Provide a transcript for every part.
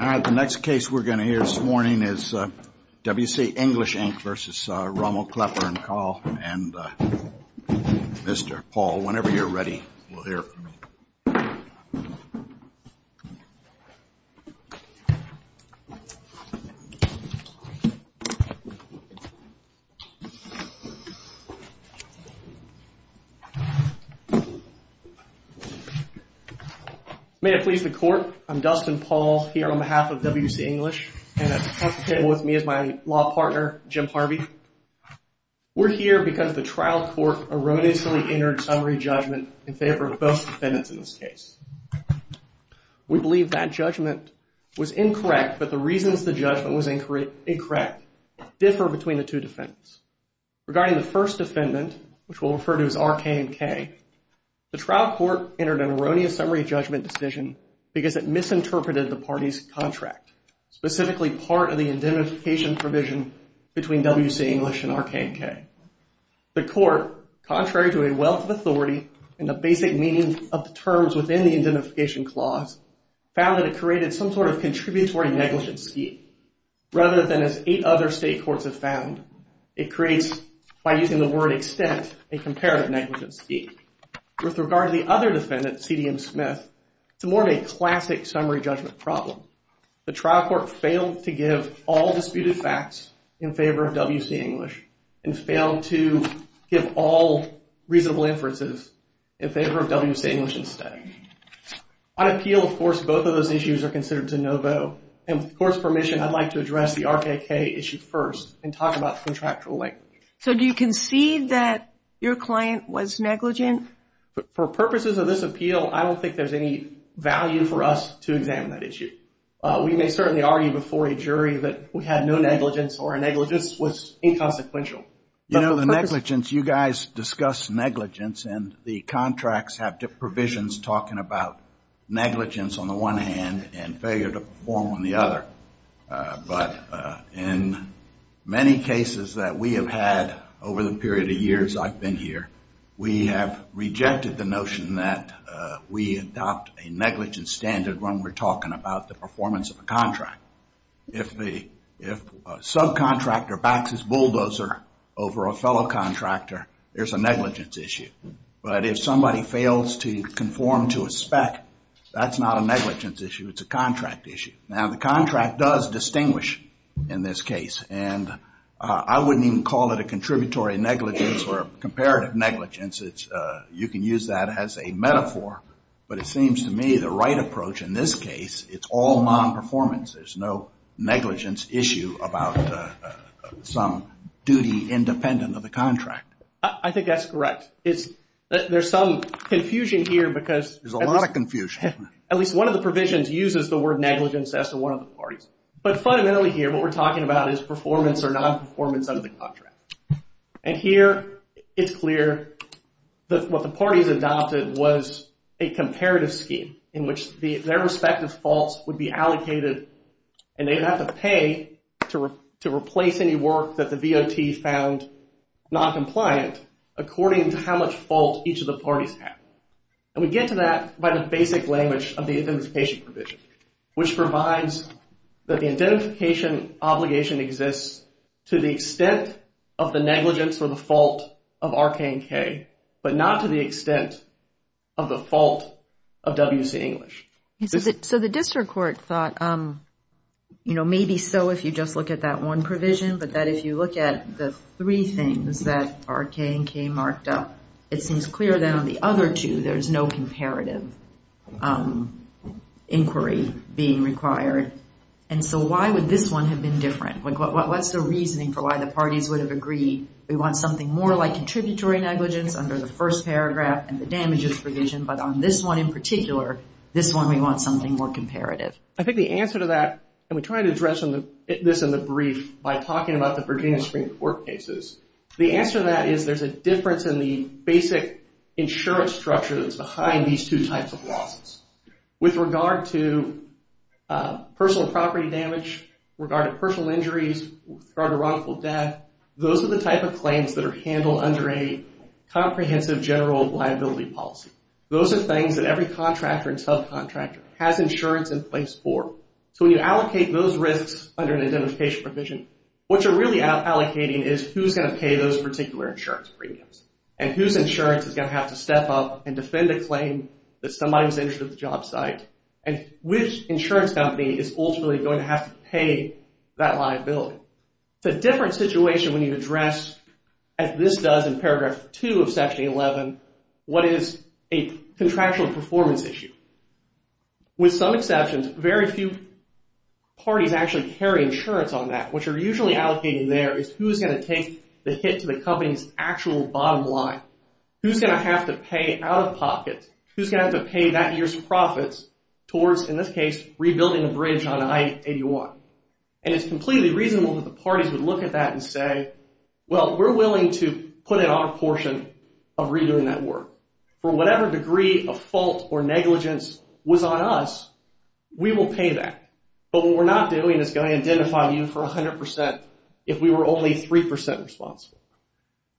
Alright, the next case we're going to hear this morning is W. C. English, Inc. v. Rummel, Klepper & Kahl, and Mr. Paul, whenever you're ready, we'll hear from you. May it please the Court, I'm Dustin Paul, here on behalf of W. C. English, and at the top of the table with me is my law partner, Jim Harvey. We're here because the trial court erroneously entered summary judgment in favor of both defendants in this case. We believe that judgment was incorrect, but the reasons the judgment was incorrect differ between the two defendants. Regarding the first defendant, which we'll refer to as R. K. & K., the trial court entered an erroneous summary judgment decision because it misinterpreted the party's contract, specifically part of the indemnification provision between W. C. English and R. K. & K. The court, contrary to a wealth of authority and the basic meaning of the terms within the indemnification clause, found that it created some sort of contributory negligence scheme. Rather than as eight other state courts have found, it creates, by using the word extent, a comparative negligence scheme. With regard to the other defendant, C. D. M. Smith, it's more of a classic summary judgment problem. The trial court failed to give all disputed facts in favor of W. C. English and failed to give all reasonable inferences in favor of W. C. English instead. On appeal, of course, both of those issues are considered de novo. With the court's permission, I'd like to address the R. K. & K. issue first and talk about the contractual link. Do you concede that your client was negligent? For purposes of this appeal, I don't think there's any value for us to examine that issue. We may certainly argue before a jury that we had no negligence or negligence was inconsequential. You know, the negligence, you guys discuss negligence and the contracts have provisions talking about negligence on the one hand and failure to perform on the other. But in many cases that we have had over the period of years I've been here, we have rejected the notion that we adopt a negligence standard when we're talking about the performance of a contract. Now, if a subcontractor backs his bulldozer over a fellow contractor, there's a negligence issue. But if somebody fails to conform to a spec, that's not a negligence issue, it's a contract issue. Now, the contract does distinguish in this case. And I wouldn't even call it a contributory negligence or comparative negligence. You can use that as a metaphor, but it seems to me the right approach in this case, it's all non-performance. There's no negligence issue about some duty independent of the contract. I think that's correct. There's some confusion here because... There's a lot of confusion. At least one of the provisions uses the word negligence as to one of the parties. But fundamentally here, what we're talking about is performance or non-performance of the contract. And here, it's clear that what the parties adopted was a comparative scheme in which their respective faults would be allocated. And they'd have to pay to replace any work that the VOT found non-compliant according to how much fault each of the parties have. And we get to that by the basic language of the identification provision. Which provides that the identification obligation exists to the extent of the negligence or the fault of R, K, and K. But not to the extent of the fault of WC English. So the district court thought, you know, maybe so if you just look at that one provision. But that if you look at the three things that R, K, and K marked up, it seems clear that on the other two, there's no comparative inquiry. Being required. And so why would this one have been different? What's the reasoning for why the parties would have agreed? We want something more like contributory negligence under the first paragraph and the damages provision. But on this one in particular, this one we want something more comparative. I think the answer to that, and we try to address this in the brief by talking about the Virginia Supreme Court cases. The answer to that is there's a difference in the basic insurance structure that's behind these two types of losses. With regard to personal property damage, with regard to personal injuries, with regard to wrongful death. Those are the type of claims that are handled under a comprehensive general liability policy. Those are things that every contractor and subcontractor has insurance in place for. So when you allocate those risks under an identification provision, what you're really allocating is who's going to pay those particular insurance premiums. And whose insurance is going to have to step up and defend a claim that somebody was injured at the job site. And which insurance company is ultimately going to have to pay that liability. It's a different situation when you address, as this does in paragraph two of section 11, what is a contractual performance issue. With some exceptions, very few parties actually carry insurance on that. What you're usually allocating there is who's going to take the hit to the company's actual bottom line. Who's going to have to pay out of pocket, who's going to have to pay that year's profits towards, in this case, rebuilding a bridge on I-81. And it's completely reasonable that the parties would look at that and say, well, we're willing to put in our portion of redoing that work. For whatever degree of fault or negligence was on us, we will pay that. But what we're not doing is going to identify you for 100% if we were only 3% responsible.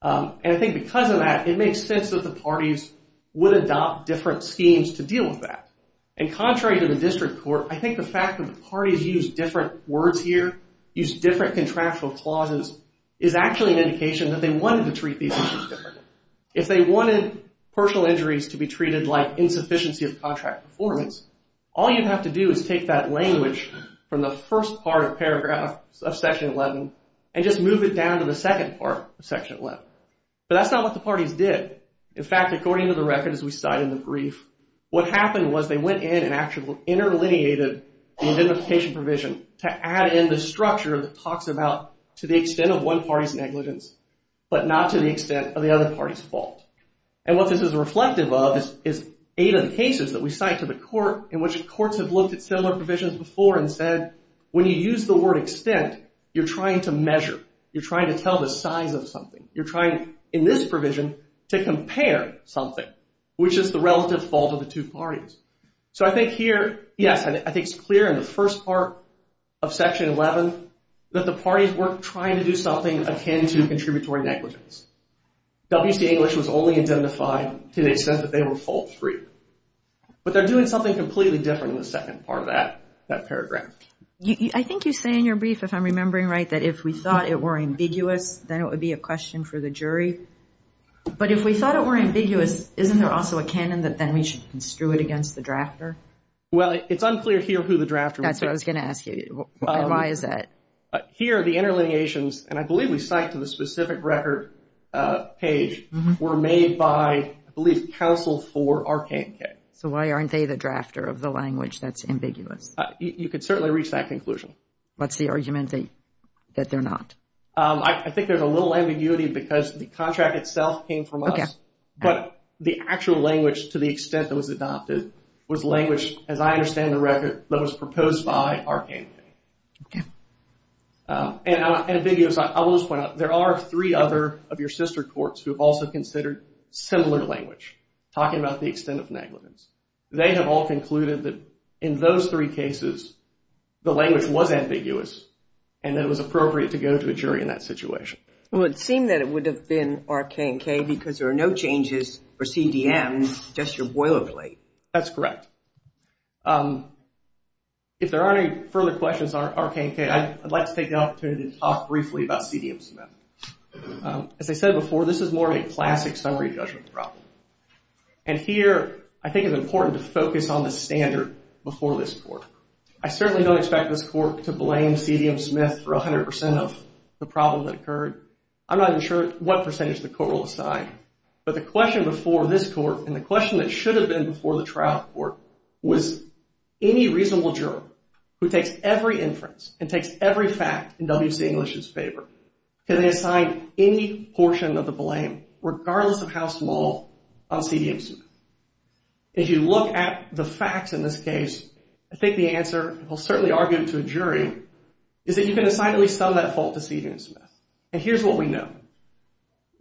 And I think because of that, it makes sense that the parties would adopt different schemes to deal with that. And contrary to the district court, I think the fact that the parties use different words here, use different contractual clauses, is actually an indication that they wanted to treat these issues differently. If they wanted personal injuries to be treated like insufficiency of contract performance, all you'd have to do is take that language from the first part of paragraph of section 11 and just move it down to the second part of section 11. But that's not what the parties did. In fact, according to the records we cite in the brief, what happened was they went in and actually interlineated the identification provision to add in the structure that talks about to the extent of one party's negligence, but not to the extent of the other party's fault. And what this is reflective of is eight of the cases that we cite to the court in which courts have looked at similar provisions before and said, when you use the word extent, you're trying to measure. You're trying to tell the size of something. You're trying, in this provision, to compare something, which is the relative fault of the two parties. So I think here, yes, I think it's clear in the first part of section 11 that the parties were trying to do something akin to contributory negligence. WC English was only indemnified to the extent that they were fault free. But they're doing something completely different in the second part of that paragraph. I think you say in your brief, if I'm remembering right, that if we thought it were ambiguous, then it would be a question for the jury. But if we thought it were ambiguous, isn't there also a canon that then we should construe it against the drafter? Well, it's unclear here who the drafter was. That's what I was going to ask you. Why is that? Here, the interlineations, and I believe we cite to the specific record page, were made by, I believe, counsel for RK&K. So why aren't they the drafter of the language that's ambiguous? You could certainly reach that conclusion. What's the argument that they're not? I think there's a little ambiguity because the contract itself came from us. But the actual language, to the extent that was adopted, was language, as I understand the record, that was proposed by RK&K. Okay. And ambiguous, I will just point out, there are three other of your sister courts who have also considered similar language, talking about the extent of negligence. They have all concluded that in those three cases, the language was ambiguous and that it was appropriate to go to a jury in that situation. Well, it seemed that it would have been RK&K because there are no changes for CDM, just your boilerplate. That's correct. If there aren't any further questions on RK&K, I'd like to take the opportunity to talk briefly about CDM Smith. As I said before, this is more of a classic summary judgment problem. And here, I think it's important to focus on the standard before this court. I certainly don't expect this court to blame CDM Smith for 100% of the problem that occurred. I'm not even sure what percentage the court will decide. But the question before this court and the question that should have been before the trial court was, any reasonable juror who takes every inference and takes every fact in WC English's favor, can they assign any portion of the blame, regardless of how small, on CDM Smith? If you look at the facts in this case, I think the answer, we'll certainly argue to a jury, is that you can assign at least some of that fault to CDM Smith. And here's what we know.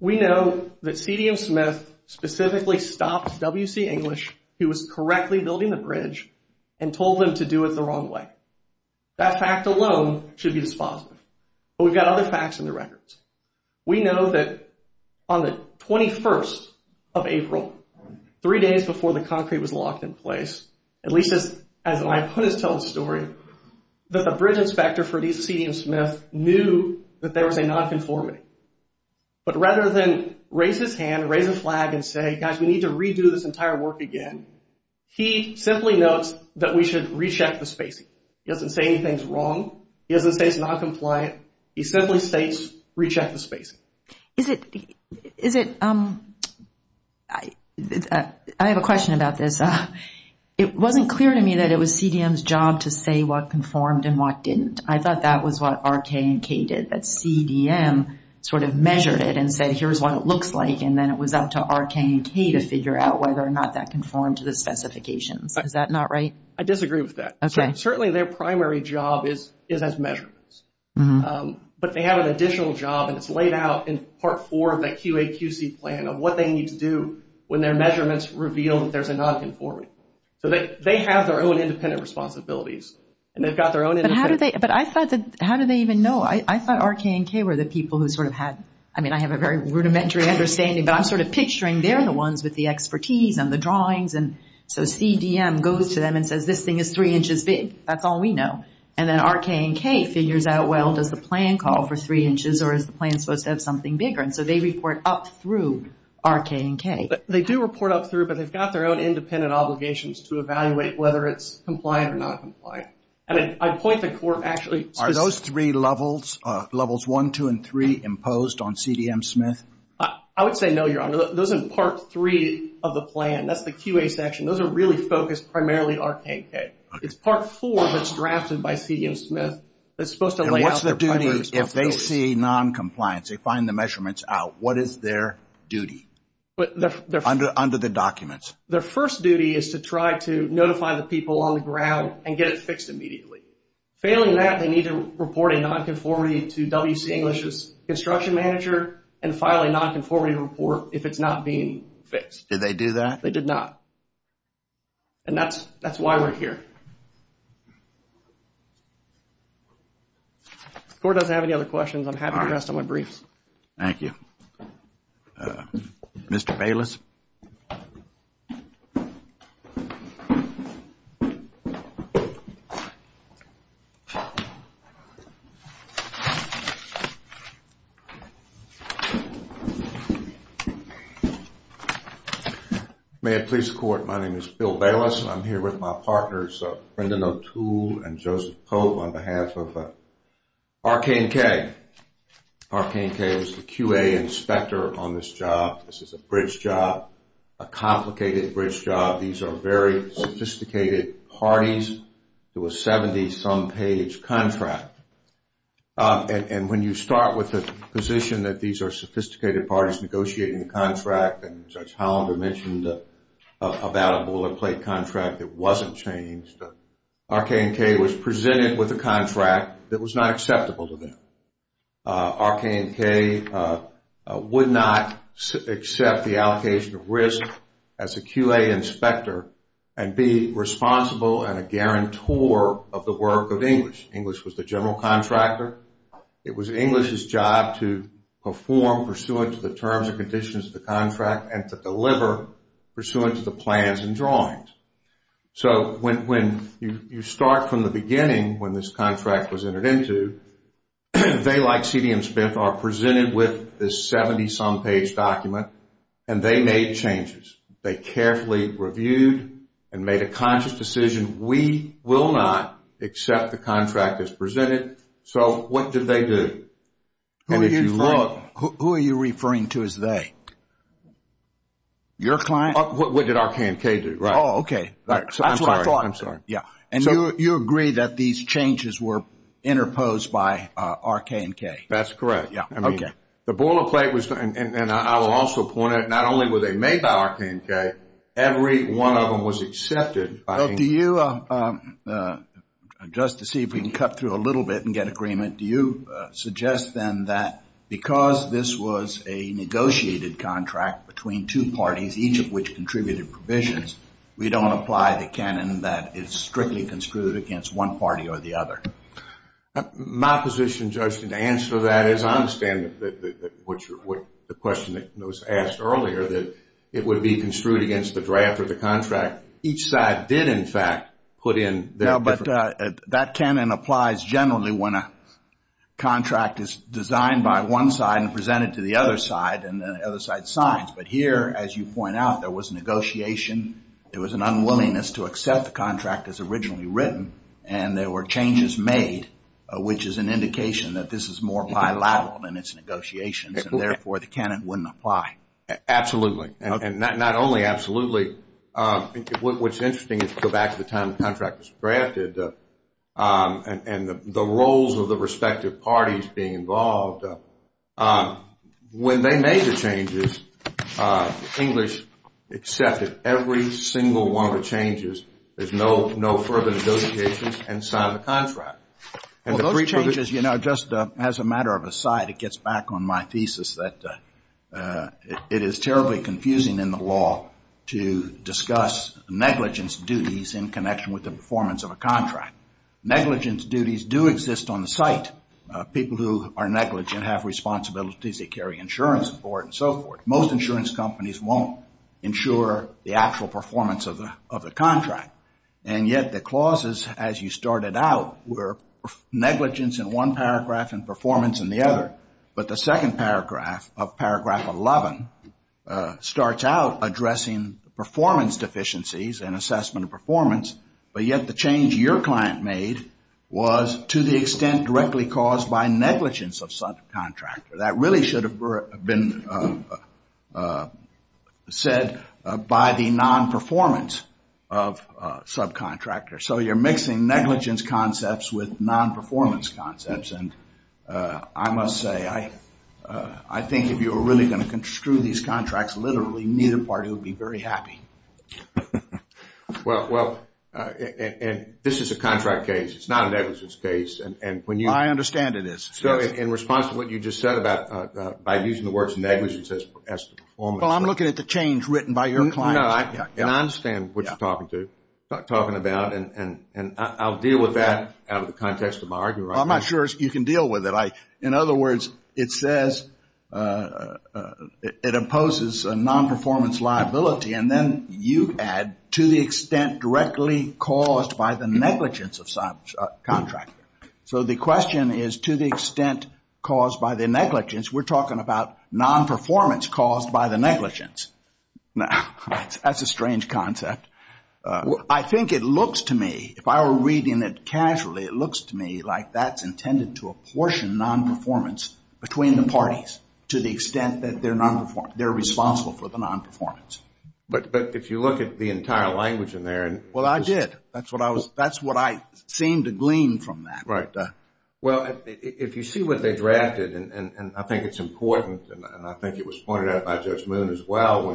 We know that CDM Smith specifically stopped WC English, who was correctly building the bridge, and told them to do it the wrong way. That fact alone should be dispositive. But we've got other facts in the records. We know that on the 21st of April, three days before the concrete was locked in place, at least as my opponent's telling the story, that the bridge inspector for CDM Smith knew that there was a nonconformity. But rather than raise his hand, raise his flag, and say, guys, we need to redo this entire work again, he simply notes that we should recheck the spacing. He doesn't say anything's wrong. He doesn't say it's noncompliant. He simply states, recheck the spacing. Is it, is it, I have a question about this. It wasn't clear to me that it was CDM's job to say what conformed and what didn't. I thought that was what R.K. and K. did, that CDM sort of measured it and said, here's what it looks like. And then it was up to R.K. and K. to figure out whether or not that conformed to the specifications. Is that not right? I disagree with that. Certainly their primary job is, is as measurements. But they have an additional job, and it's laid out in Part 4 of the QAQC plan of what they need to do when their measurements reveal that there's a nonconformity. So they, they have their own independent responsibilities. And they've got their own independent. But how do they, but I thought that, how do they even know? I thought R.K. and K. were the people who sort of had, I mean, I have a very rudimentary understanding, but I'm sort of picturing they're the ones with the expertise and the drawings. And so CDM goes to them and says, this thing is three inches big. That's all we know. And then R.K. and K. figures out, well, does the plan call for three inches or is the plan supposed to have something bigger? And so they report up through R.K. and K. They do report up through, but they've got their own independent obligations to evaluate whether it's compliant or not compliant. And I point the court actually. Are those three levels, levels one, two, and three imposed on CDM Smith? I would say no, Your Honor. Those are part three of the plan. That's the QA section. Those are really focused primarily on R.K. and K. It's part four that's drafted by CDM Smith that's supposed to lay out their primary responsibilities. And what's the duty if they see noncompliance? They find the measurements out. What is their duty? Under the documents. Their first duty is to try to notify the people on the ground and get it fixed immediately. Failing that, they need to report a nonconformity to W.C. English's construction manager and file a nonconformity report if it's not being fixed. Did they do that? They did not. And that's why we're here. The court doesn't have any other questions. I'm happy to address them on briefs. Thank you. Mr. Bayless. May it please the court, my name is Bill Bayless. I'm here with my partners, Brendan O'Toole and Joseph Cove on behalf of R.K. and K. R.K. and K. was the QA inspector on this job. This is a bridge job, It's a bridge job. It's a bridge job. It's a bridge job. It's an on-page, some-page contract. And when you start with the position that these are sophisticated parties negotiating the contract, and Judge Hollander mentioned about a bullet-plate contract that wasn't changed, R.K. and K. was presented with a contract that was not acceptable to them. R.K. and K. would not accept the allocation of risk as a QA inspector and be responsible and a guarantor of the work of English. English was the general contractor. It was English's job to perform pursuant to the terms and conditions of the contract and to deliver pursuant to the plans and drawings. So when you start from the beginning when this contract was entered into, they, like C.D. and Smith, are presented with this 70-some-page document and they made changes. They carefully reviewed and we will not accept the contract as presented. So what did they do? And if you look... Who are you referring to as they? Your client? What did R.K. and K. do? Oh, okay. I'm sorry. And you agree that these changes were interposed by R.K. and K.? That's correct. The bullet-plate was... and I will also point out not only were they made by R.K. and K., every one of them was accepted. Do you... just to see if we can cut through a little bit and get agreement, do you suggest then that because this was a negotiated contract between two parties, each of which contributed provisions, we don't apply the canon that is strictly construed against one party or the other? My position, Justin, to answer that is I understand the question that was asked earlier that it would be construed right after the contract. Each side did, in fact, put in... No, but that canon applies generally when a contract is designed by one side and presented to the other side and the other side signs. But here, as you point out, there was negotiation. There was an unwillingness to accept the contract as originally written and there were changes made, which is an indication that this is more bilateral than it should be. What's interesting is go back to the time the contract was drafted and the roles of the respective parties being involved. When they made the changes, English accepted every single one of the changes. There's no further negotiations and signed the contract. Well, those changes, just as a matter of a side, it gets back on my thesis that it is terribly confusing to discuss negligence duties in connection with the performance of a contract. Negligence duties do exist on the site. People who are negligent have responsibilities. They carry insurance and so forth. Most insurance companies won't insure the actual performance of the contract. And yet the clauses, as you started out, were negligence in one paragraph and performance in the other. But the second paragraph of paragraph 11 starts out addressing performance deficiencies and assessment of performance. But yet the change your client made was to the extent directly caused by negligence of subcontractor. That really should have been said by the nonperformance of subcontractor. So you're mixing negligence concepts with nonperformance concepts. I must say, I think if you were really going to construe these contracts, literally neither party would be very happy. Well, this is a contract case. It's not a negligence case. I understand it is. So in response to what you just said about by using the words negligence as the performance. Well, I'm looking at the change written by your client. And I understand what you're talking about. And I'll deal with that out of the context of my argument. I'm not sure you can deal with it. In other words, it says it imposes nonperformance liability. And then you add to the extent directly caused by the negligence of subcontractor. So the question is to the extent caused by the negligence. We're talking about nonperformance caused by the negligence. Now, that's a strange concept. I think it looks to me if I were reading it casually, it looks to me like that's intended to apportion nonperformance between the parties to the extent that their nonperformance, they're responsible for the nonperformance. But if you look at the entire language in there. Well, I did. That's what I was, that's what I seemed to glean from that. Right. Well, if you see what they drafted and I think it's important and I think it was pointed out by Judge Moon as well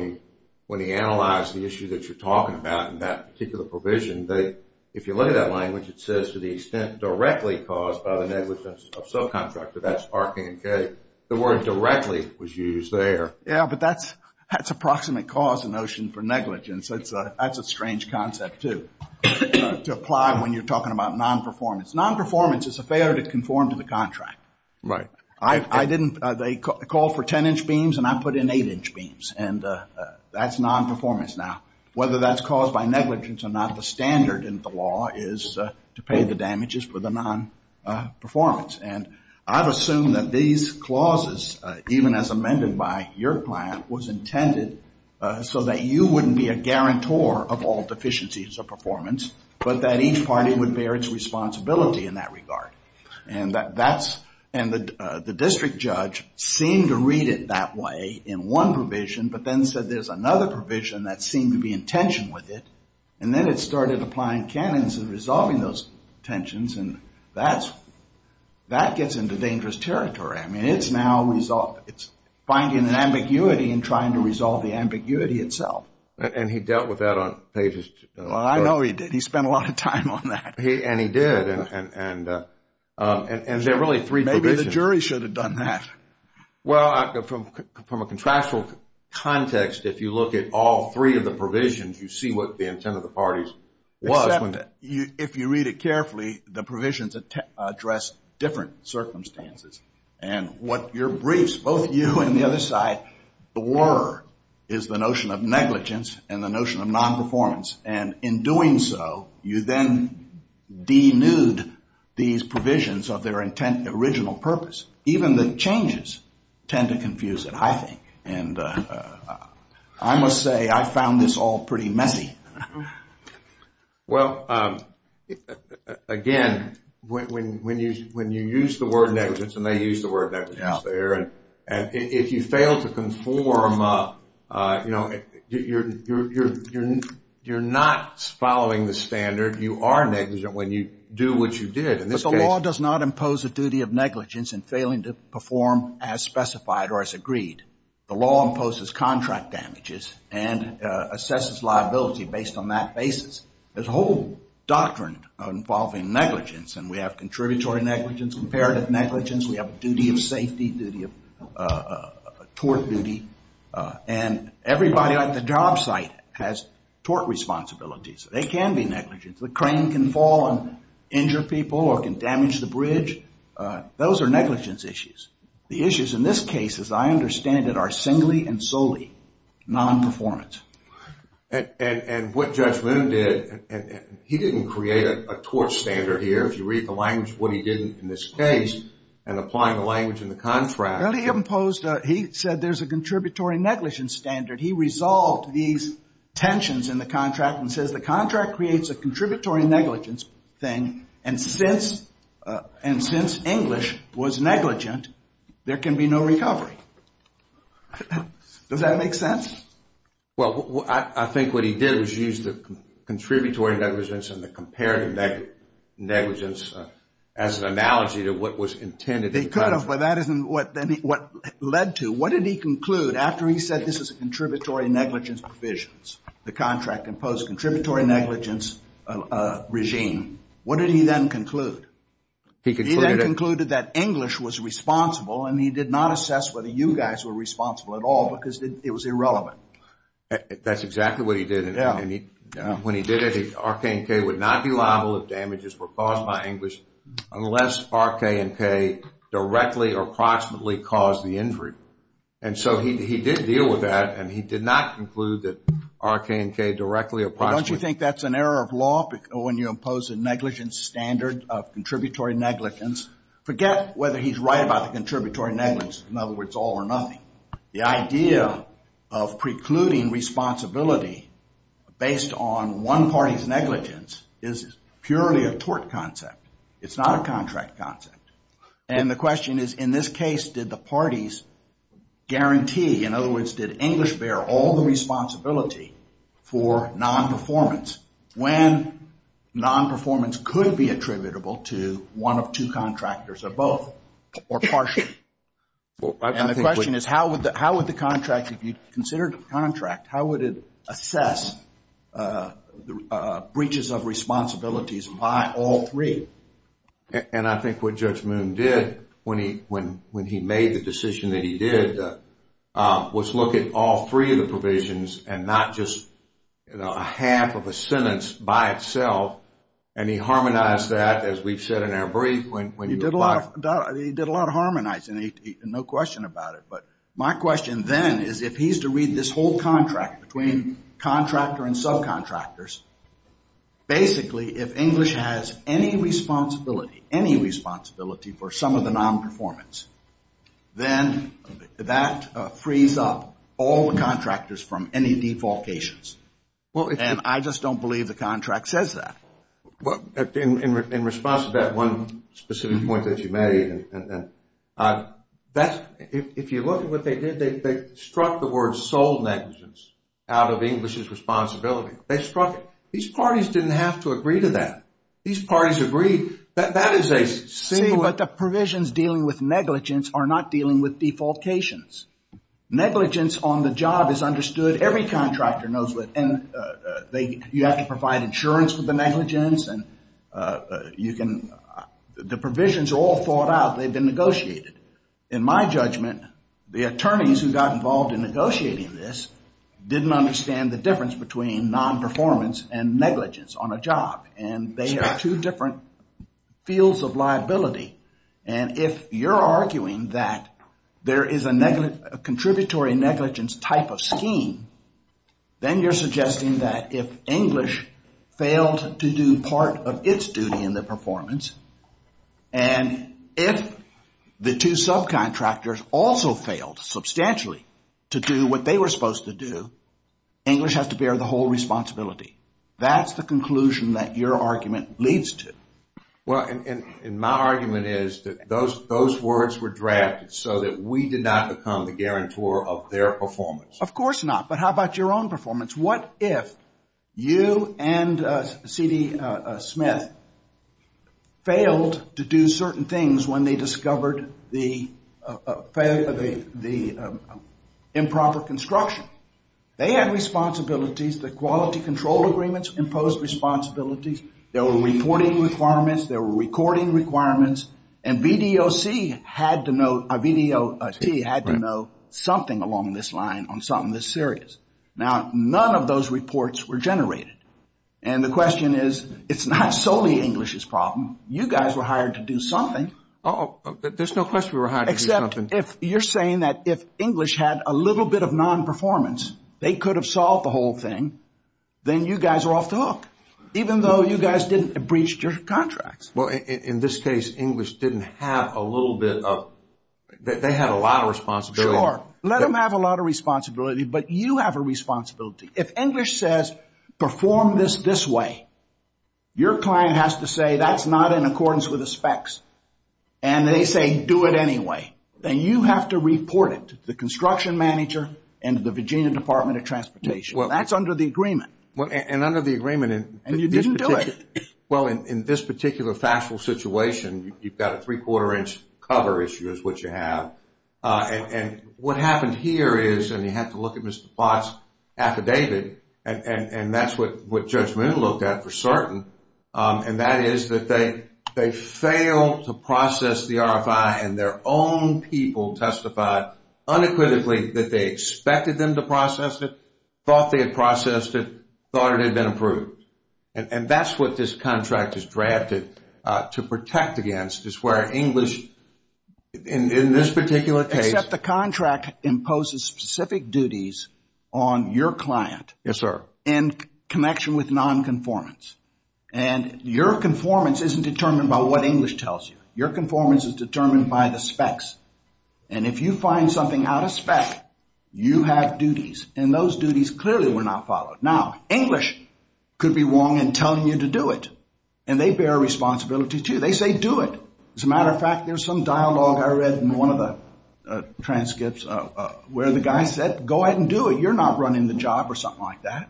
when he analyzed the issue that you're talking about in that particular provision that if you look at that language it says to the extent directly caused by the negligence of subcontractor. That's R, K, and K. The word directly was used there. Yeah, but that's approximate cause and notion for negligence. That's a strange concept too to apply when you're talking about nonperformance. Nonperformance is a failure to conform to the contract. Right. I didn't, they called for 10 inch beams and I put in 8 inch beams and that's nonperformance now. Whether that's caused is to pay the damages for the nonperformance and I've assumed that these clauses even if they're not in the statute they're not in the statute and they're not in the statute and as amended by your plan was intended so that you wouldn't be a guarantor of all deficiencies of performance but that each party would bear its responsibility in that regard and that's and the district judge seemed to read it that way in one provision but then said there's another provision that seemed to be in tension with it and then it started applying cannons and resolving those tensions and that's that gets into dangerous territory. I mean it's now resolved. It's finding an ambiguity and trying to resolve the ambiguity itself. And he dealt with that on pages Well I know he did. He spent a lot of time on that. And he did and there are really three provisions. Maybe the jury should have done that. Well from a contractual context if you look at all three of the provisions you see what the intent of the parties was. Except that if you read it carefully the provisions address different circumstances and what your briefs both you and the other side were is the notion of negligence and the notion of non-performance and in doing so you then denude these provisions of their intent original purpose. Even the changes I found this all pretty messy. Well again when you use the word negligence and the notion of non-performance and the notion of non-performance and the notion of non-performance and they use the word negligence there and if you fail to conform you know you're not following the standard you are negligent when you do what you did. But the law does not impose a duty of negligence in failing to perform as specified or as agreed. The law imposes contract damages and assesses liability based on that basis. There's a whole doctrine involving negligence and we have contributory negligence comparative negligence we have duty of safety duty of tort duty and everybody at the job site has tort responsibilities. They can be negligent. The crane can fall and injure people or can damage the bridge. Those are negligence issues. The issues in this case as I understand it are singly and solely nonperformance. And what Judge Loon did he didn't create a tort standard here. If you read the language what he did in this case and applying the language in the contract Well he imposed he said there's a contributory negligence standard. He resolved these tensions in the contract and says the contract creates a contributory negligence thing and since and since English was negligent there can be no recovery. Does that make sense? Well I think what he did was use the contributory negligence and the comparative negligence as an analogy to what was intended They could have but that isn't what led to. What did he conclude after he said this is contributory negligence provisions the contract imposed contributory negligence regime what did he then conclude? He concluded that English was responsible and he did not assess whether you guys were responsible at all because it was irrelevant. That's exactly what he did and when he did it he looked at all the responsibilities by all three. And I think what Judge Moon did when he made the decision that he did was look at all three of the provisions and not just a half of a sentence by itself and he harmonized that as we said in our brief. He did a lot of harmonizing no question about it but my question then is if he's to read this whole contract between contractor and subcontractors basically if English has any responsibility for some of the nonperformance then that frees up all the contractors from any defalcations. And I just don't believe the contract says that. In response to that one specific point that you made if you look at what they did they struck the word sole negligence out of English's responsibility. These parties didn't have to agree to a nonperformance on the job. It's understood every contractor knows it. You have to provide insurance for the negligence. The provisions are all thought out. They've been negotiated. In my judgment the attorneys who got involved in this type of scheme then you're suggesting that if English failed to do part of its duty in the performance and if the two subcontractors also failed substantially to do what they were supposed to do English has to bear the whole responsibility. That's the conclusion that your argument leads to. My argument is that those words were drafted so that we did not become the guarantor of their performance. Of course not, but how about your own performance? What if you and C.D. Smith failed to do certain things when they discovered the improper construction? They had responsibilities, the quality control agreements imposed responsibilities, there were reporting requirements, there were recording requirements, and VDOC had to know something along this line on something this serious. Now, none of those reports were generated, and the question is it's not solely English's problem. You guys were hired to do something. There's no question we were hired to do something. Except if you're saying that if English had a little bit of nonperformance they could have solved the whole thing, then you guys are off the hook, even though you guys didn't breach your requirements. If that's not in accordance with the specs, and they say do it anyway, then you have to report it to the construction manager and the Virginia Department of Transportation. That's under the agreement. And you didn't do it. Well, in this particular factual situation, you've got a three-quarter inch cover issue, which you have. And what happened here is, and you have to look at Mr. Plott's affidavit, and that's what Judge Moon looked at for certain, and that is that they failed to process the RFI, and their own people testified unequivocally that they expected them to process it, thought they had processed it, thought it had been approved. And that's what this contract is drafted to protect against, is where English, in this particular case... Except the contract imposes specific duties on your client... Yes, and if you find something out of spec, you have duties, and those duties clearly were not followed. Now, English could be wrong in telling you to do it, and they bear responsibility too. They say do it. As a matter of fact, there's some dialogue I read in one of the transcripts where the guy said, go ahead and do it. You're not running the job or something like that.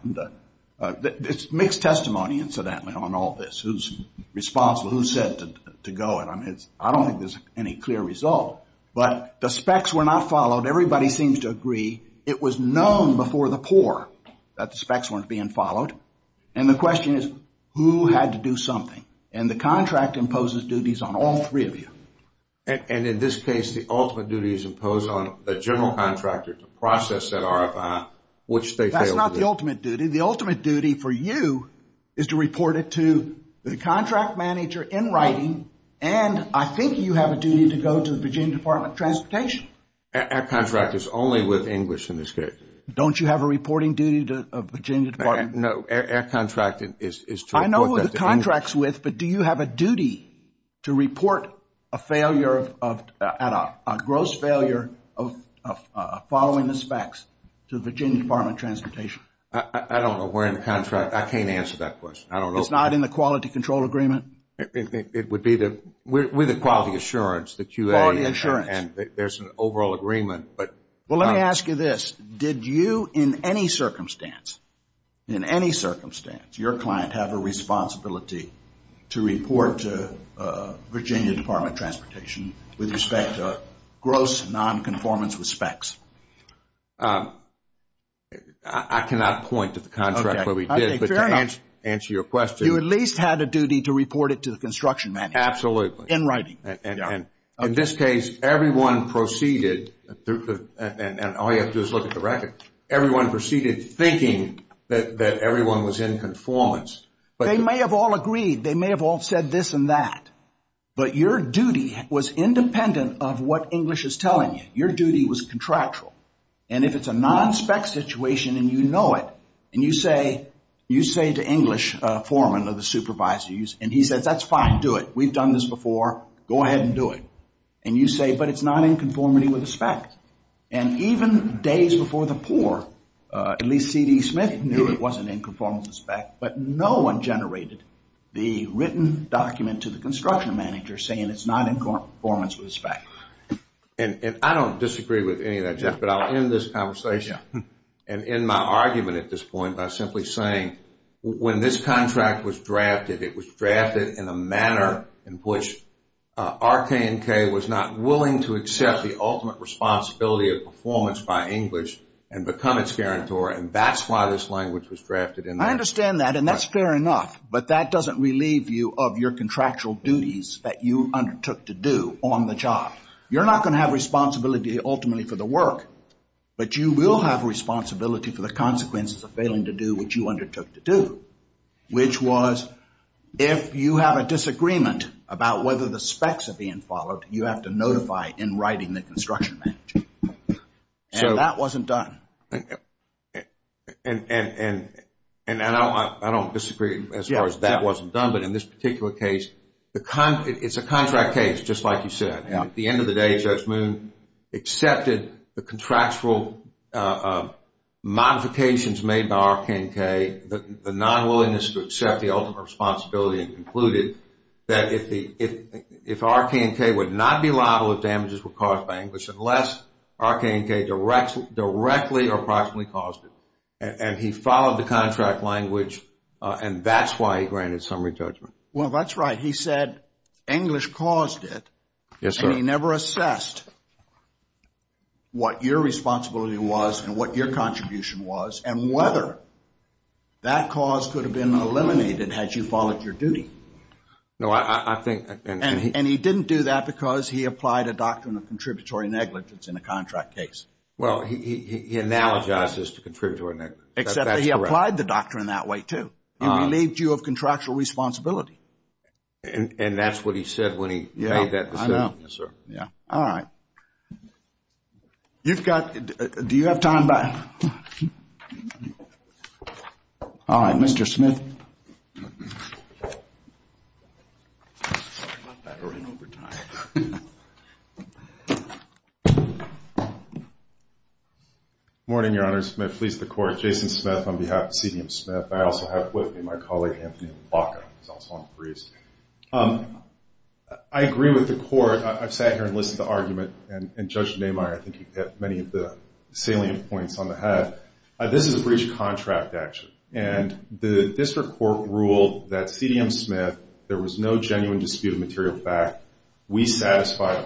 It's mixed testimony, incidentally, on all this, who's responsible, who's said to go it. I don't think there's any clear result, but the specs were not correct. In that case, the ultimate duty is imposed on contractor to process that RFI, which they failed to do. That's not the ultimate duty. The ultimate duty for you is to report it to the contract manager in writing, and I think you have a duty to go to the manager and report it to the contract manager. I don't know where in the contract. I can't answer that question. I don't know. It's not in the quality control agreement? It would be the quality assurance. Quality assurance. There's an overall agreement. Let me ask you this. Did you in any circumstance, in any circumstance, your client have a responsibility to report to Virginia Department of Transportation with respect to gross nonconformance with specs? I cannot point to the contract where we did, but to answer your question. You at least had a duty to report Department of Transportation with respect specs. I can't answer that question. I can't answer that question. I can't answer that question. I can't answer that question. I can't answer that question. I didn't have a duty to report Department of Transportation with respect to gross nonconformance with specs. I don't have a responsibility to report it. I don't have a duty to report Department of Transportation with respect to gross nonconformance with specs. I have a duty to report government and continue to do that. I don't have a duty to report that. I don't have a duty to report that. I don't have a duty to report that. I have a report that. It is not my to contribute name. I have a duty to to report that. That's my duty to report that. Thank you sir, thank you. Good morning your honor. Smith please the court. Jason Smith on behalf of CDM Smith. I also have with me my colleague Anthony Blanco he's also on the briefs. I agree with the fact that there are contractual obligations. And the undisputed evidence below is Let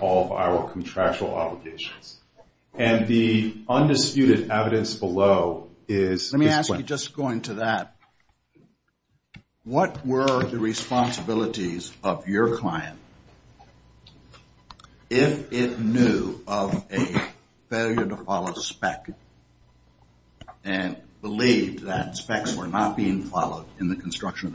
me ask you just going to that what were the responsibilities of your client if it knew of a failure to follow spec and believed that specs were not being followed in the QAQC What was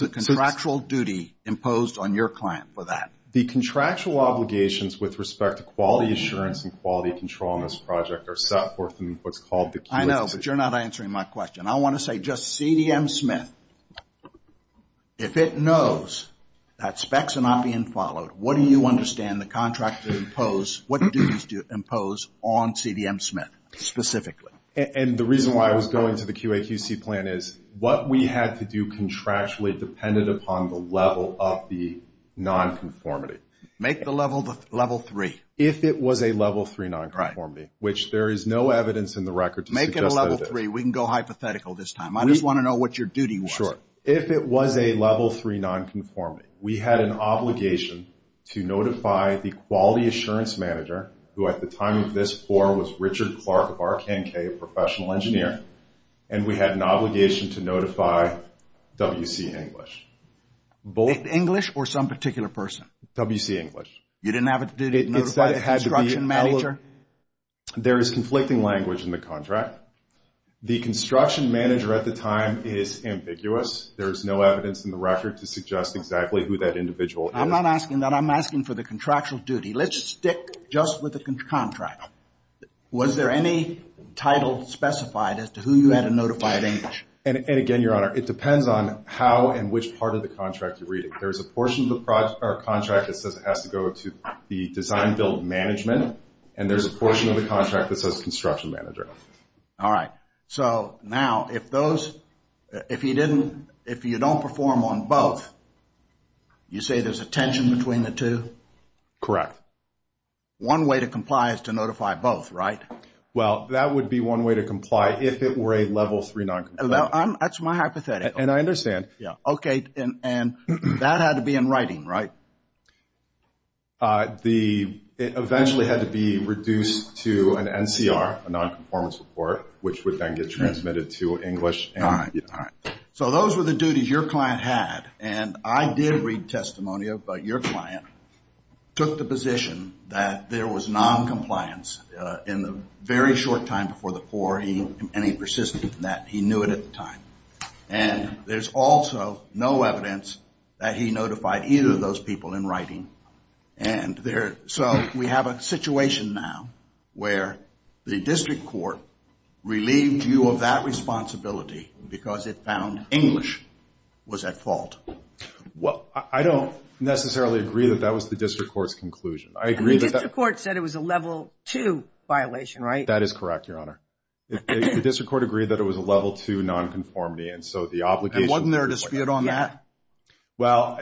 the responsibility imposed on your client for that? The contractual with respect to quality assurance and quality control on this project are set forth in what's called the QAQC plan. I know but you're not answering my question. I want to say just CDM Smith, if it knows that specs are not being followed, what do you impose on CDM Smith specifically? And the reason why I was going to the QAQC plan is what we had to do contractually depended upon the level 3 nonconformity. Make the level 3. If it was a level 3 nonconformity, which there is no evidence in the record to suggest that it is. Make it a level 3. We can go hypothetical this time. I just want to know what your duty was. Sure. If it was a level 3 nonconformity, we had an obligation to notify the quality assurance manager, who at the time of this was Richard Clark of RKNK professional engineer, and we had an obligation to notify WC English. English or some particular person? WC English. You didn't have a duty to notify the construction manager? There is conflicting language in the contract. The construction manager at the time is ambiguous. There is no evidence in the record to suggest exactly who that individual is. I'm not asking that. I'm asking for the contractual duty. Let's stick just with the construction There is a portion of the contract that says it has to go to the design management and there is a portion of the contract that says construction manager. If you don't perform on both, you say there is a tension between the two? Correct. One way to comply is to notify both, right? Well, that would comply if it were a level 3 non-conformance report. That's my hypothetical. And I understand. Okay, and that had to be in writing, right? It eventually had to be reduced to an NCR, a non- conformance report, which would then get transmitted to English. All right. So those were the duties your client had. And I did read testimonial, but your client took the position that there was non- compliance in the very short time before the poor and he persisted in that. He knew it at the time. And there's also no evidence that he notified either of those people in writing. So we have a situation now where the district court relieved you of that responsibility because it found English was at fault. I don't necessarily agree that that was the district court's conclusion. And the district court said it was a level 2 violation, right? That is correct, Your Honor. The district court agreed that it was a level 2 non- conformity. And wasn't there a dispute on that? Well,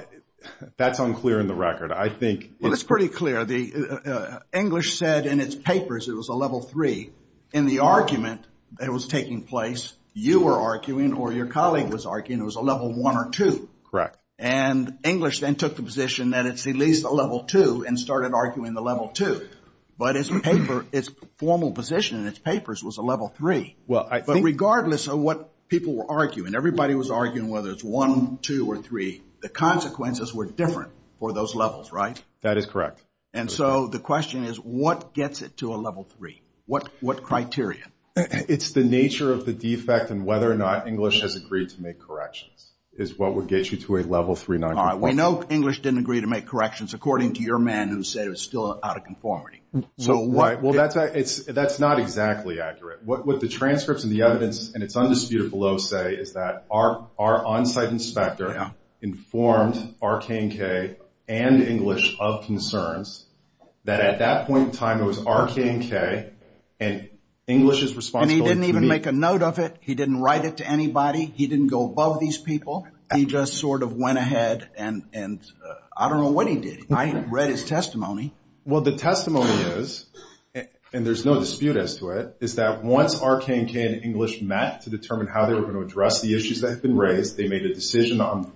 that's unclear in the record. It's pretty clear. English said in its papers it was a level 3. In the argument that your colleague was arguing, it was a level 1 or 2. Correct. And English then took the position that it's at least a level 2 and started arguing the level 2. But its formal position in its papers was a level 3. Regardless of what people were arguing, everybody was arguing whether it's 1, 2, or 3. The consequences were different for those levels, right? That is correct. And so the question is what gets it to a level 3? What criteria? It's the nature of the defect and whether or not English has agreed to make corrections, is what would get you to a level 3. All right. We know English didn't agree to make corrections according to your man who said it was still out of conformity. Well, that's not exactly accurate. What the transcripts and the evidence and its undisputed below say is that our on-site inspector informed RK&K and English of concerns that at that point in time it was RK&K and English is responsible. And he didn't even make a note of it. He didn't write it to anybody. He didn't go above these people. He just sort of went ahead and I don't know what he did. I read his testimony. Well, the testimony is, and there's no dispute as to what happened to it, is that once RK&K and English met to determine how they were going to address the issues that had been raised, they made a decision on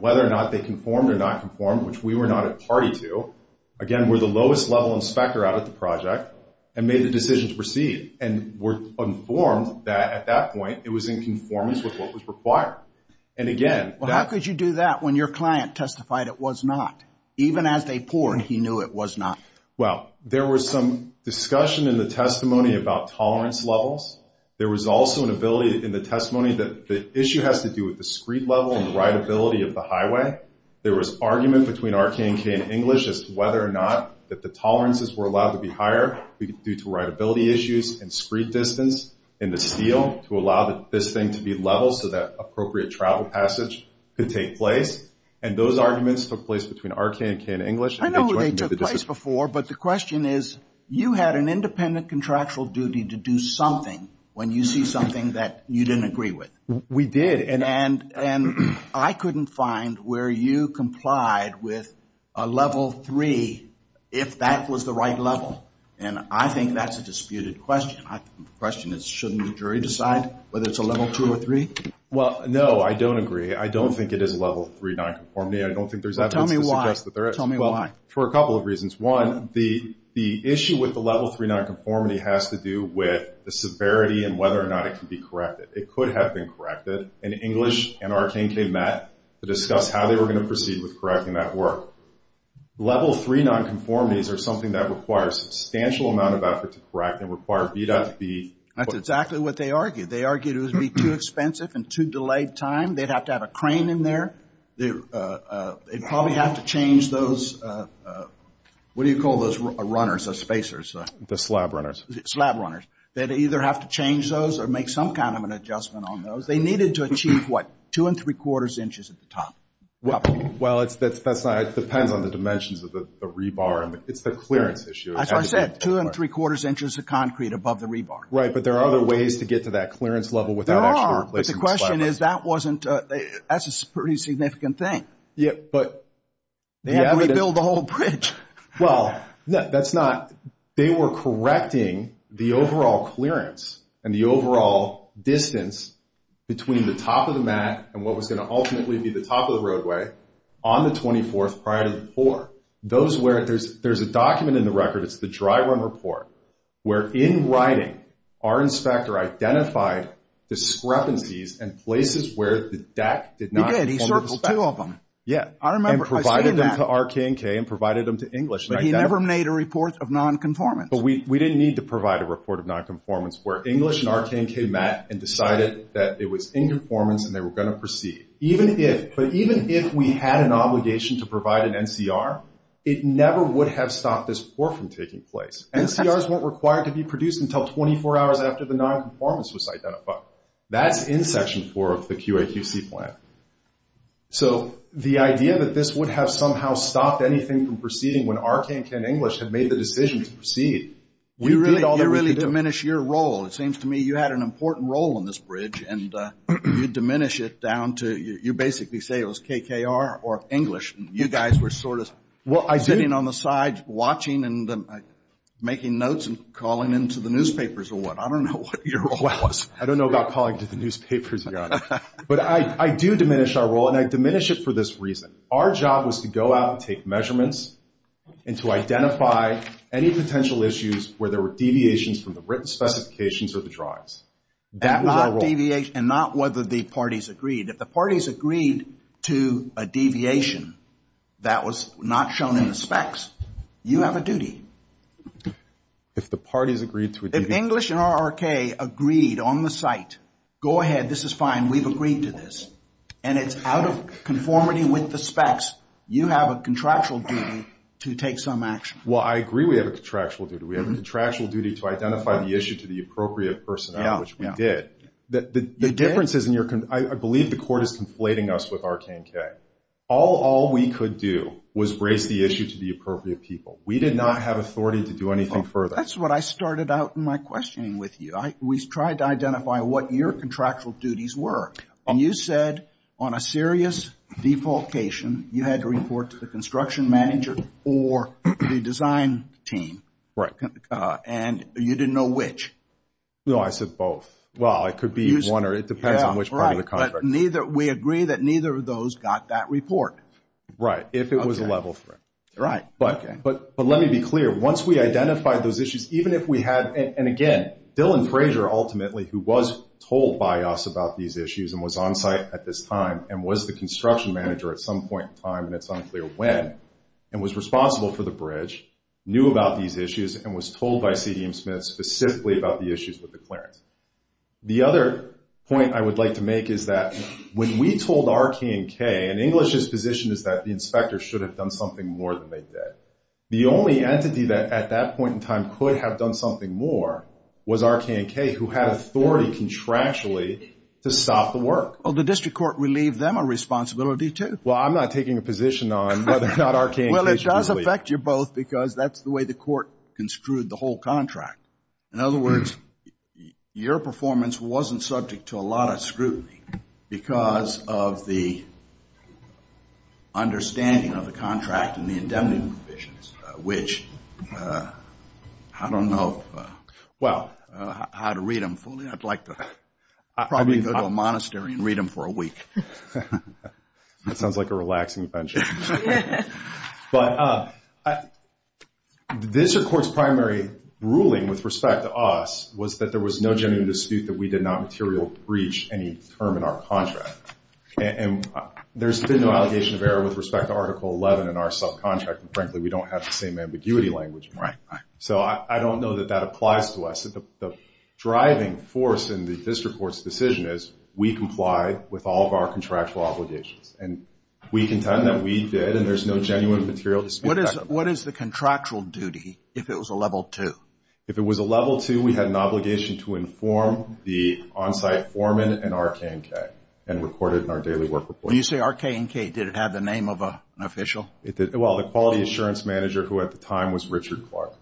whether or not they conformed or not conformed, which we were not at party to. Again, we're the lowest level inspector out of the project and made the decision to proceed and were informed that at that point it was in conformance with what was required. And again, that... Well, how could you do that when your client testified it was not? Even as they poured, he knew it was not. Well, there was some discussion in the testimony about tolerance levels. There was also an ability in the testimony that the issue has to do with the screed level and rideability of the highway. There was argument between RK&K and English as to whether or not that the tolerances were allowed to be higher due to rideability issues and screed distance and the steel to allow this thing to be level so that appropriate travel passage could take place. And those arguments took place between RK&K and English. I know they took place before, but the question is you had an independent contractual duty to do something when you see something that you didn't agree with. And I couldn't find where you complied with a level three if that was the right level. And I think that's a disputed question. The question is shouldn't the jury decide whether it's a level two or three? Well, no, I don't agree. I don't think it is a level three nonconformity. I don't think there's evidence to suggest that there is. Well, for a couple of reasons. One, the issue with the level three nonconformity has to do with the severity and whether or not it could be corrected. It could have been corrected and English and it could If it was too brief and too delayed time, they'd have to have a crane in there. They'd probably have to change those, what do you call those runners, the spacers? The slab runners. Slab runners. They'd either have to change those or make some kind of adjustment on those. They needed to achieve two and three quarters inches at the top. It depends on the dimensions of the rebar. It's the clearance issue. That's why I said two and three quarters inches of concrete above the rebar. Right, but there are other ways to get to that point. We were correcting the overall clearance and the overall distance between the top of the mat and what was going to ultimately be the top of the roadway on the 24th prior to the 4th. There's a document in the record, it's the dry run report, where in writing our inspector identified discrepancies and places where the deck did not conform to the specification. He provided them to RKNK and provided them to English. He never made a report of nonconformance. We didn't need to provide a report of nonconformance where English and RKNK met and decided that it was inconformance and they were going to proceed. Even if we had an obligation to provide an NCR, it never would have stopped this from taking place. NCRs weren't required to be produced until 24 hours after the nonconformance was identified. That's in section 4 of the QAQC plan. So the idea that this would have somehow stopped anything from proceeding when RKNK and English had made the decision to proceed. You really diminish your role. It seems to me you had an important role in this bridge and you diminish it down to you basically say it was KKR or English and you guys were sort of sitting on the side watching and making notes and calling into the newspapers or what. I don't know what your role was. I don't know about calling into the newspapers. But I do diminish our role and I diminish it for this reason. Our job was to go out and take measurements and to find out if the specifications were met. The other thing that I I understand is that you think you have a duty to take some action. I don't know the specifics of that. I that you are aware that have been asked to take some action. But I don't know the specifics of that. I don't know the specifics of the issues at this time. And was responsible for the bridge, knew about these issues and was told specifically about the issues with the clearance. The other point for us is when we told R, K, the inspector has done something more than they did. The only entity that at that point in time could have done something more was R, K, and K who had authority contractually to stop the work. Well the district court relieved them a responsibility too. Well I'm not taking a position on whether or not R, K, and K should be removed from the contract. I don't know how to read them fully. I'd like to probably go to a monastery and read them for a week. That sounds like a relaxing venture. But this court's primary ruling with respect to us was that there was no genuine dispute that we did not materially breach any term in our contract. And there's been no allegation of error with respect to Article 11 in our subcontract. And frankly we don't have the same ambiguity language. So I don't know that that applies to us. The driving force in the district court's decision is we comply with all of our contractual obligations. And we contend that we did and there's no genuine material dispute. What is the contractual duty if it was a level 2? If it was a level 2 we had an obligation to inform the onsite foreman and RKNK and record it in our daily work schedule. When you say RKNK, did it have the name of an official? Well, the quality assurance manager who at the time was Richard Clark.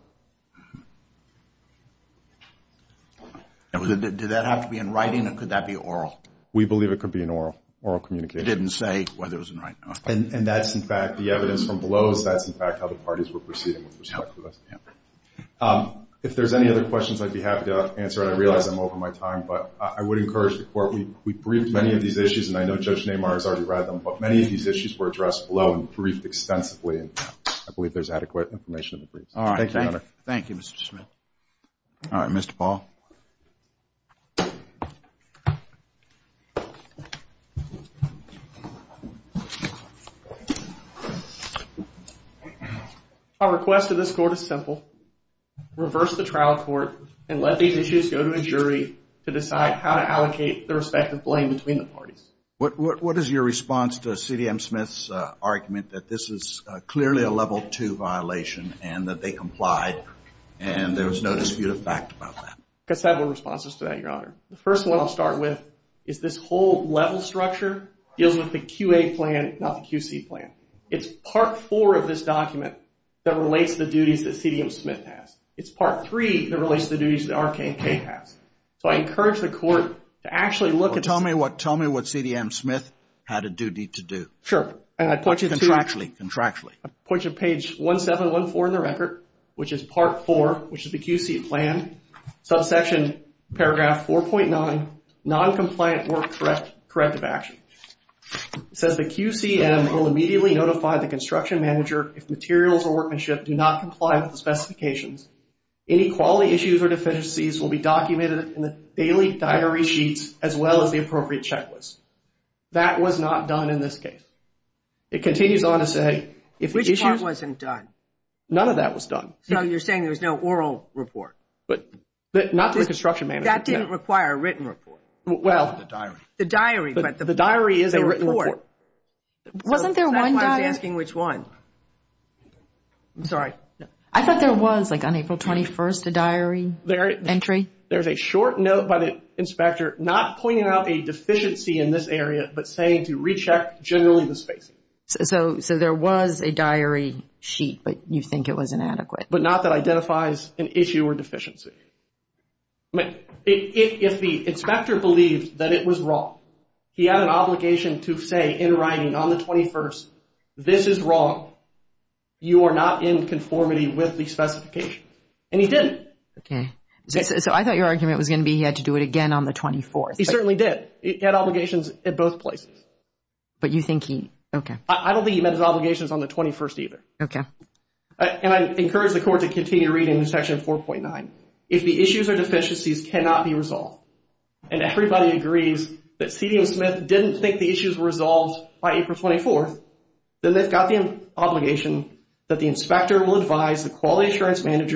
Did that have to be in writing or could that be oral? We believe it could be in oral communication. You didn't say whether it was in writing or not. And that's in fact the evidence from below is that's in fact how the parties were proceeding with respect to this. If there's any other questions I'd be happy to answer and I realize I'm over my time but I would encourage the court we briefed many of these issues and I know Judge Neymar has already read them but many of these issues were addressed below and briefed extensively. I believe there's adequate information. Thank you Mr. Schmidt. All right Mr. Paul. Our request to this court is simple. Reverse the trial court and let these issues go to a jury to decide how to allocate the respective blame between the parties. What is your response to C.D.M. Schmidt's argument that this is clearly a level 2 violation and that they complied and there was no dispute of fact about that? I have several responses to that Your Honor. The first one I'll start with is this whole level structure deals with the QA plan not the QC plan. It's part 4 of this document that relates the duties that C.D.M. Schmidt has. It's part 3 that relates the duties that R.K. K. has. So I encourage the court to actually look at this. Tell me what C.D.M. Schmidt had a duty to do. Contractually. Contractually. I point you to page 1714 in the record which is part 4 which is the QC plan, subsection paragraph 4.9 noncompliant work corrective action. It says the QC.M. will immediately notify the construction manager if materials or workmanship do not comply with the specifications. Any quality issues or errors in this case. It continues on to say if the issues. Which part wasn't done? None of that was done. So you're saying there's no oral report. Not to the construction manager. That didn't require a written report. The diary. The diary is a written report. Wasn't there one diary? I'm sorry. I thought there was on April 21st a diary entry. There's a short note by the inspector not pointing out a deficiency in this area but saying to recheck generally the spacing. So there was a diary sheet but you think it was inadequate. But not that identifies an issue or deficiency. If the inspector believed that it was wrong, he had an obligation to say in writing on the 21st, this is wrong. You are not in conformity with the specifications. And he didn't. Okay. So I thought your argument was going to be he had to do it again on the 24th. He certainly did. He had obligations at both places. But you think he on the 21st? I don't think he met his obligations on the 21st either. And I encourage the court to continue to read in section 4.9. If the issues or deficiencies cannot be resolved and everybody agrees that C.D.M. Smith didn't think the issues were resolved by April 24th, then they've got the obligation to do it again on the 24th. And that's what C.D.M. Smith has to do.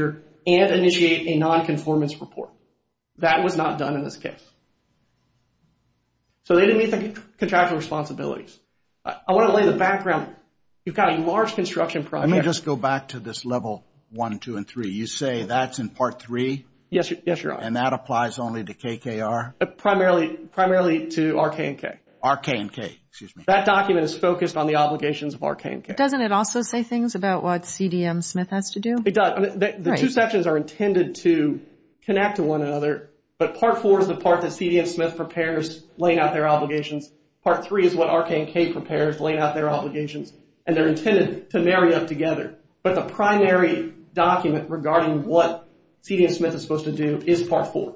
The two sections are intended to connect to one another, but part 4 is the part that C.D.M. Smith prepares laying out their obligations. Part 3 is what C.D.M. prepares laying out their obligations and they're to marry up together. But the primary document regarding what C.D.M. Smith is supposed to do is part 4.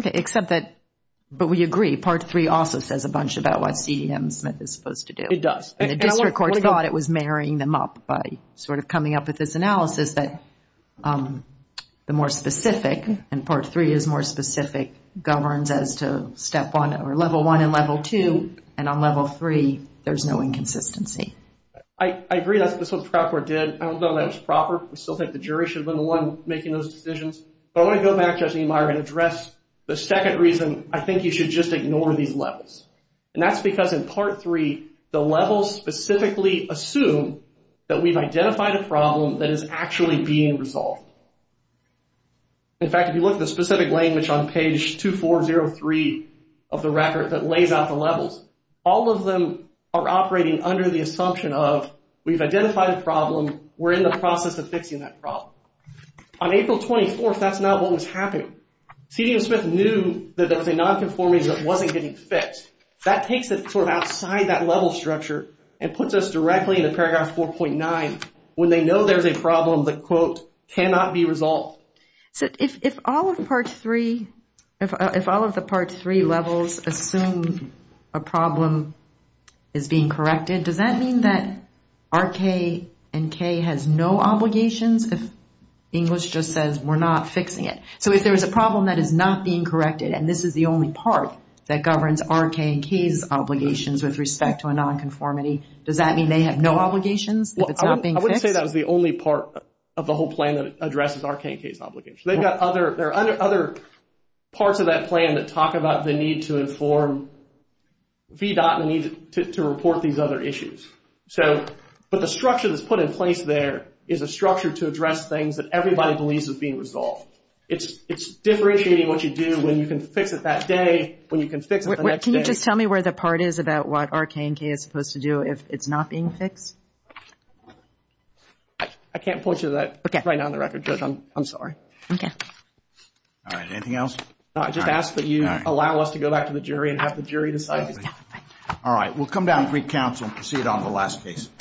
Okay, except that, but we agree, part 3 also says a bunch about what C.D.M. Smith is supposed to do. It does. The district court thought it was marrying them up by sort of coming up with this analysis that the 1 is more specific and part 3 is more specific, governs as to level 1 and level 2, and on level 3 there's no inconsistency. I agree that's what the trial court did. I don't know that it was proper. We still think the jury should have been the one making those decisions, but I want to go back and address the second reason, I think you should just ignore these levels. That's because in part 3 the levels specifically assume that we have identified a problem that is actually being resolved. In fact, if you look at the specific language on page 2403 of the record that lays out the levels, all of them are operating under the assumption of we've identified a problem, we're in the process of fixing that problem. On April 24th, that's not what was happening. C.D.O. Smith knew that there was a nonconformity that wasn't getting fixed. That takes it outside that level structure and puts us directly into paragraph 4.9 when they know there's a problem that cannot be resolved. If all of the part 3 levels assume a problem is being corrected, does that mean that R.K. and K has no obligations if English just says we're not fixing it? So if there's a not being corrected and this is the only part that governs R.K. and K's obligations with respect to a nonconformity, does that mean they have no obligations if it's not being fixed? I wouldn't say that was the only part of the whole plan that addresses R.K. and K's obligations. They've got other parts of that plan that talk about the need to inform VDOT and the need to report these other issues. But the structure that's put in place there is a structure to address things that everybody believes is being resolved. It's differentiating what you do when you can fix it that day, when you can fix it the next day. Can you just tell me where the part is about what R.K. and K. is supposed to do if it's not being fixed? I can't point you to that right now on the record, Judge. I'm sorry. Okay. All right. Anything else? No, I just ask that you allow us to go back to the jury and have the jury decide. All right. We'll come down to Greek Counsel and proceed on the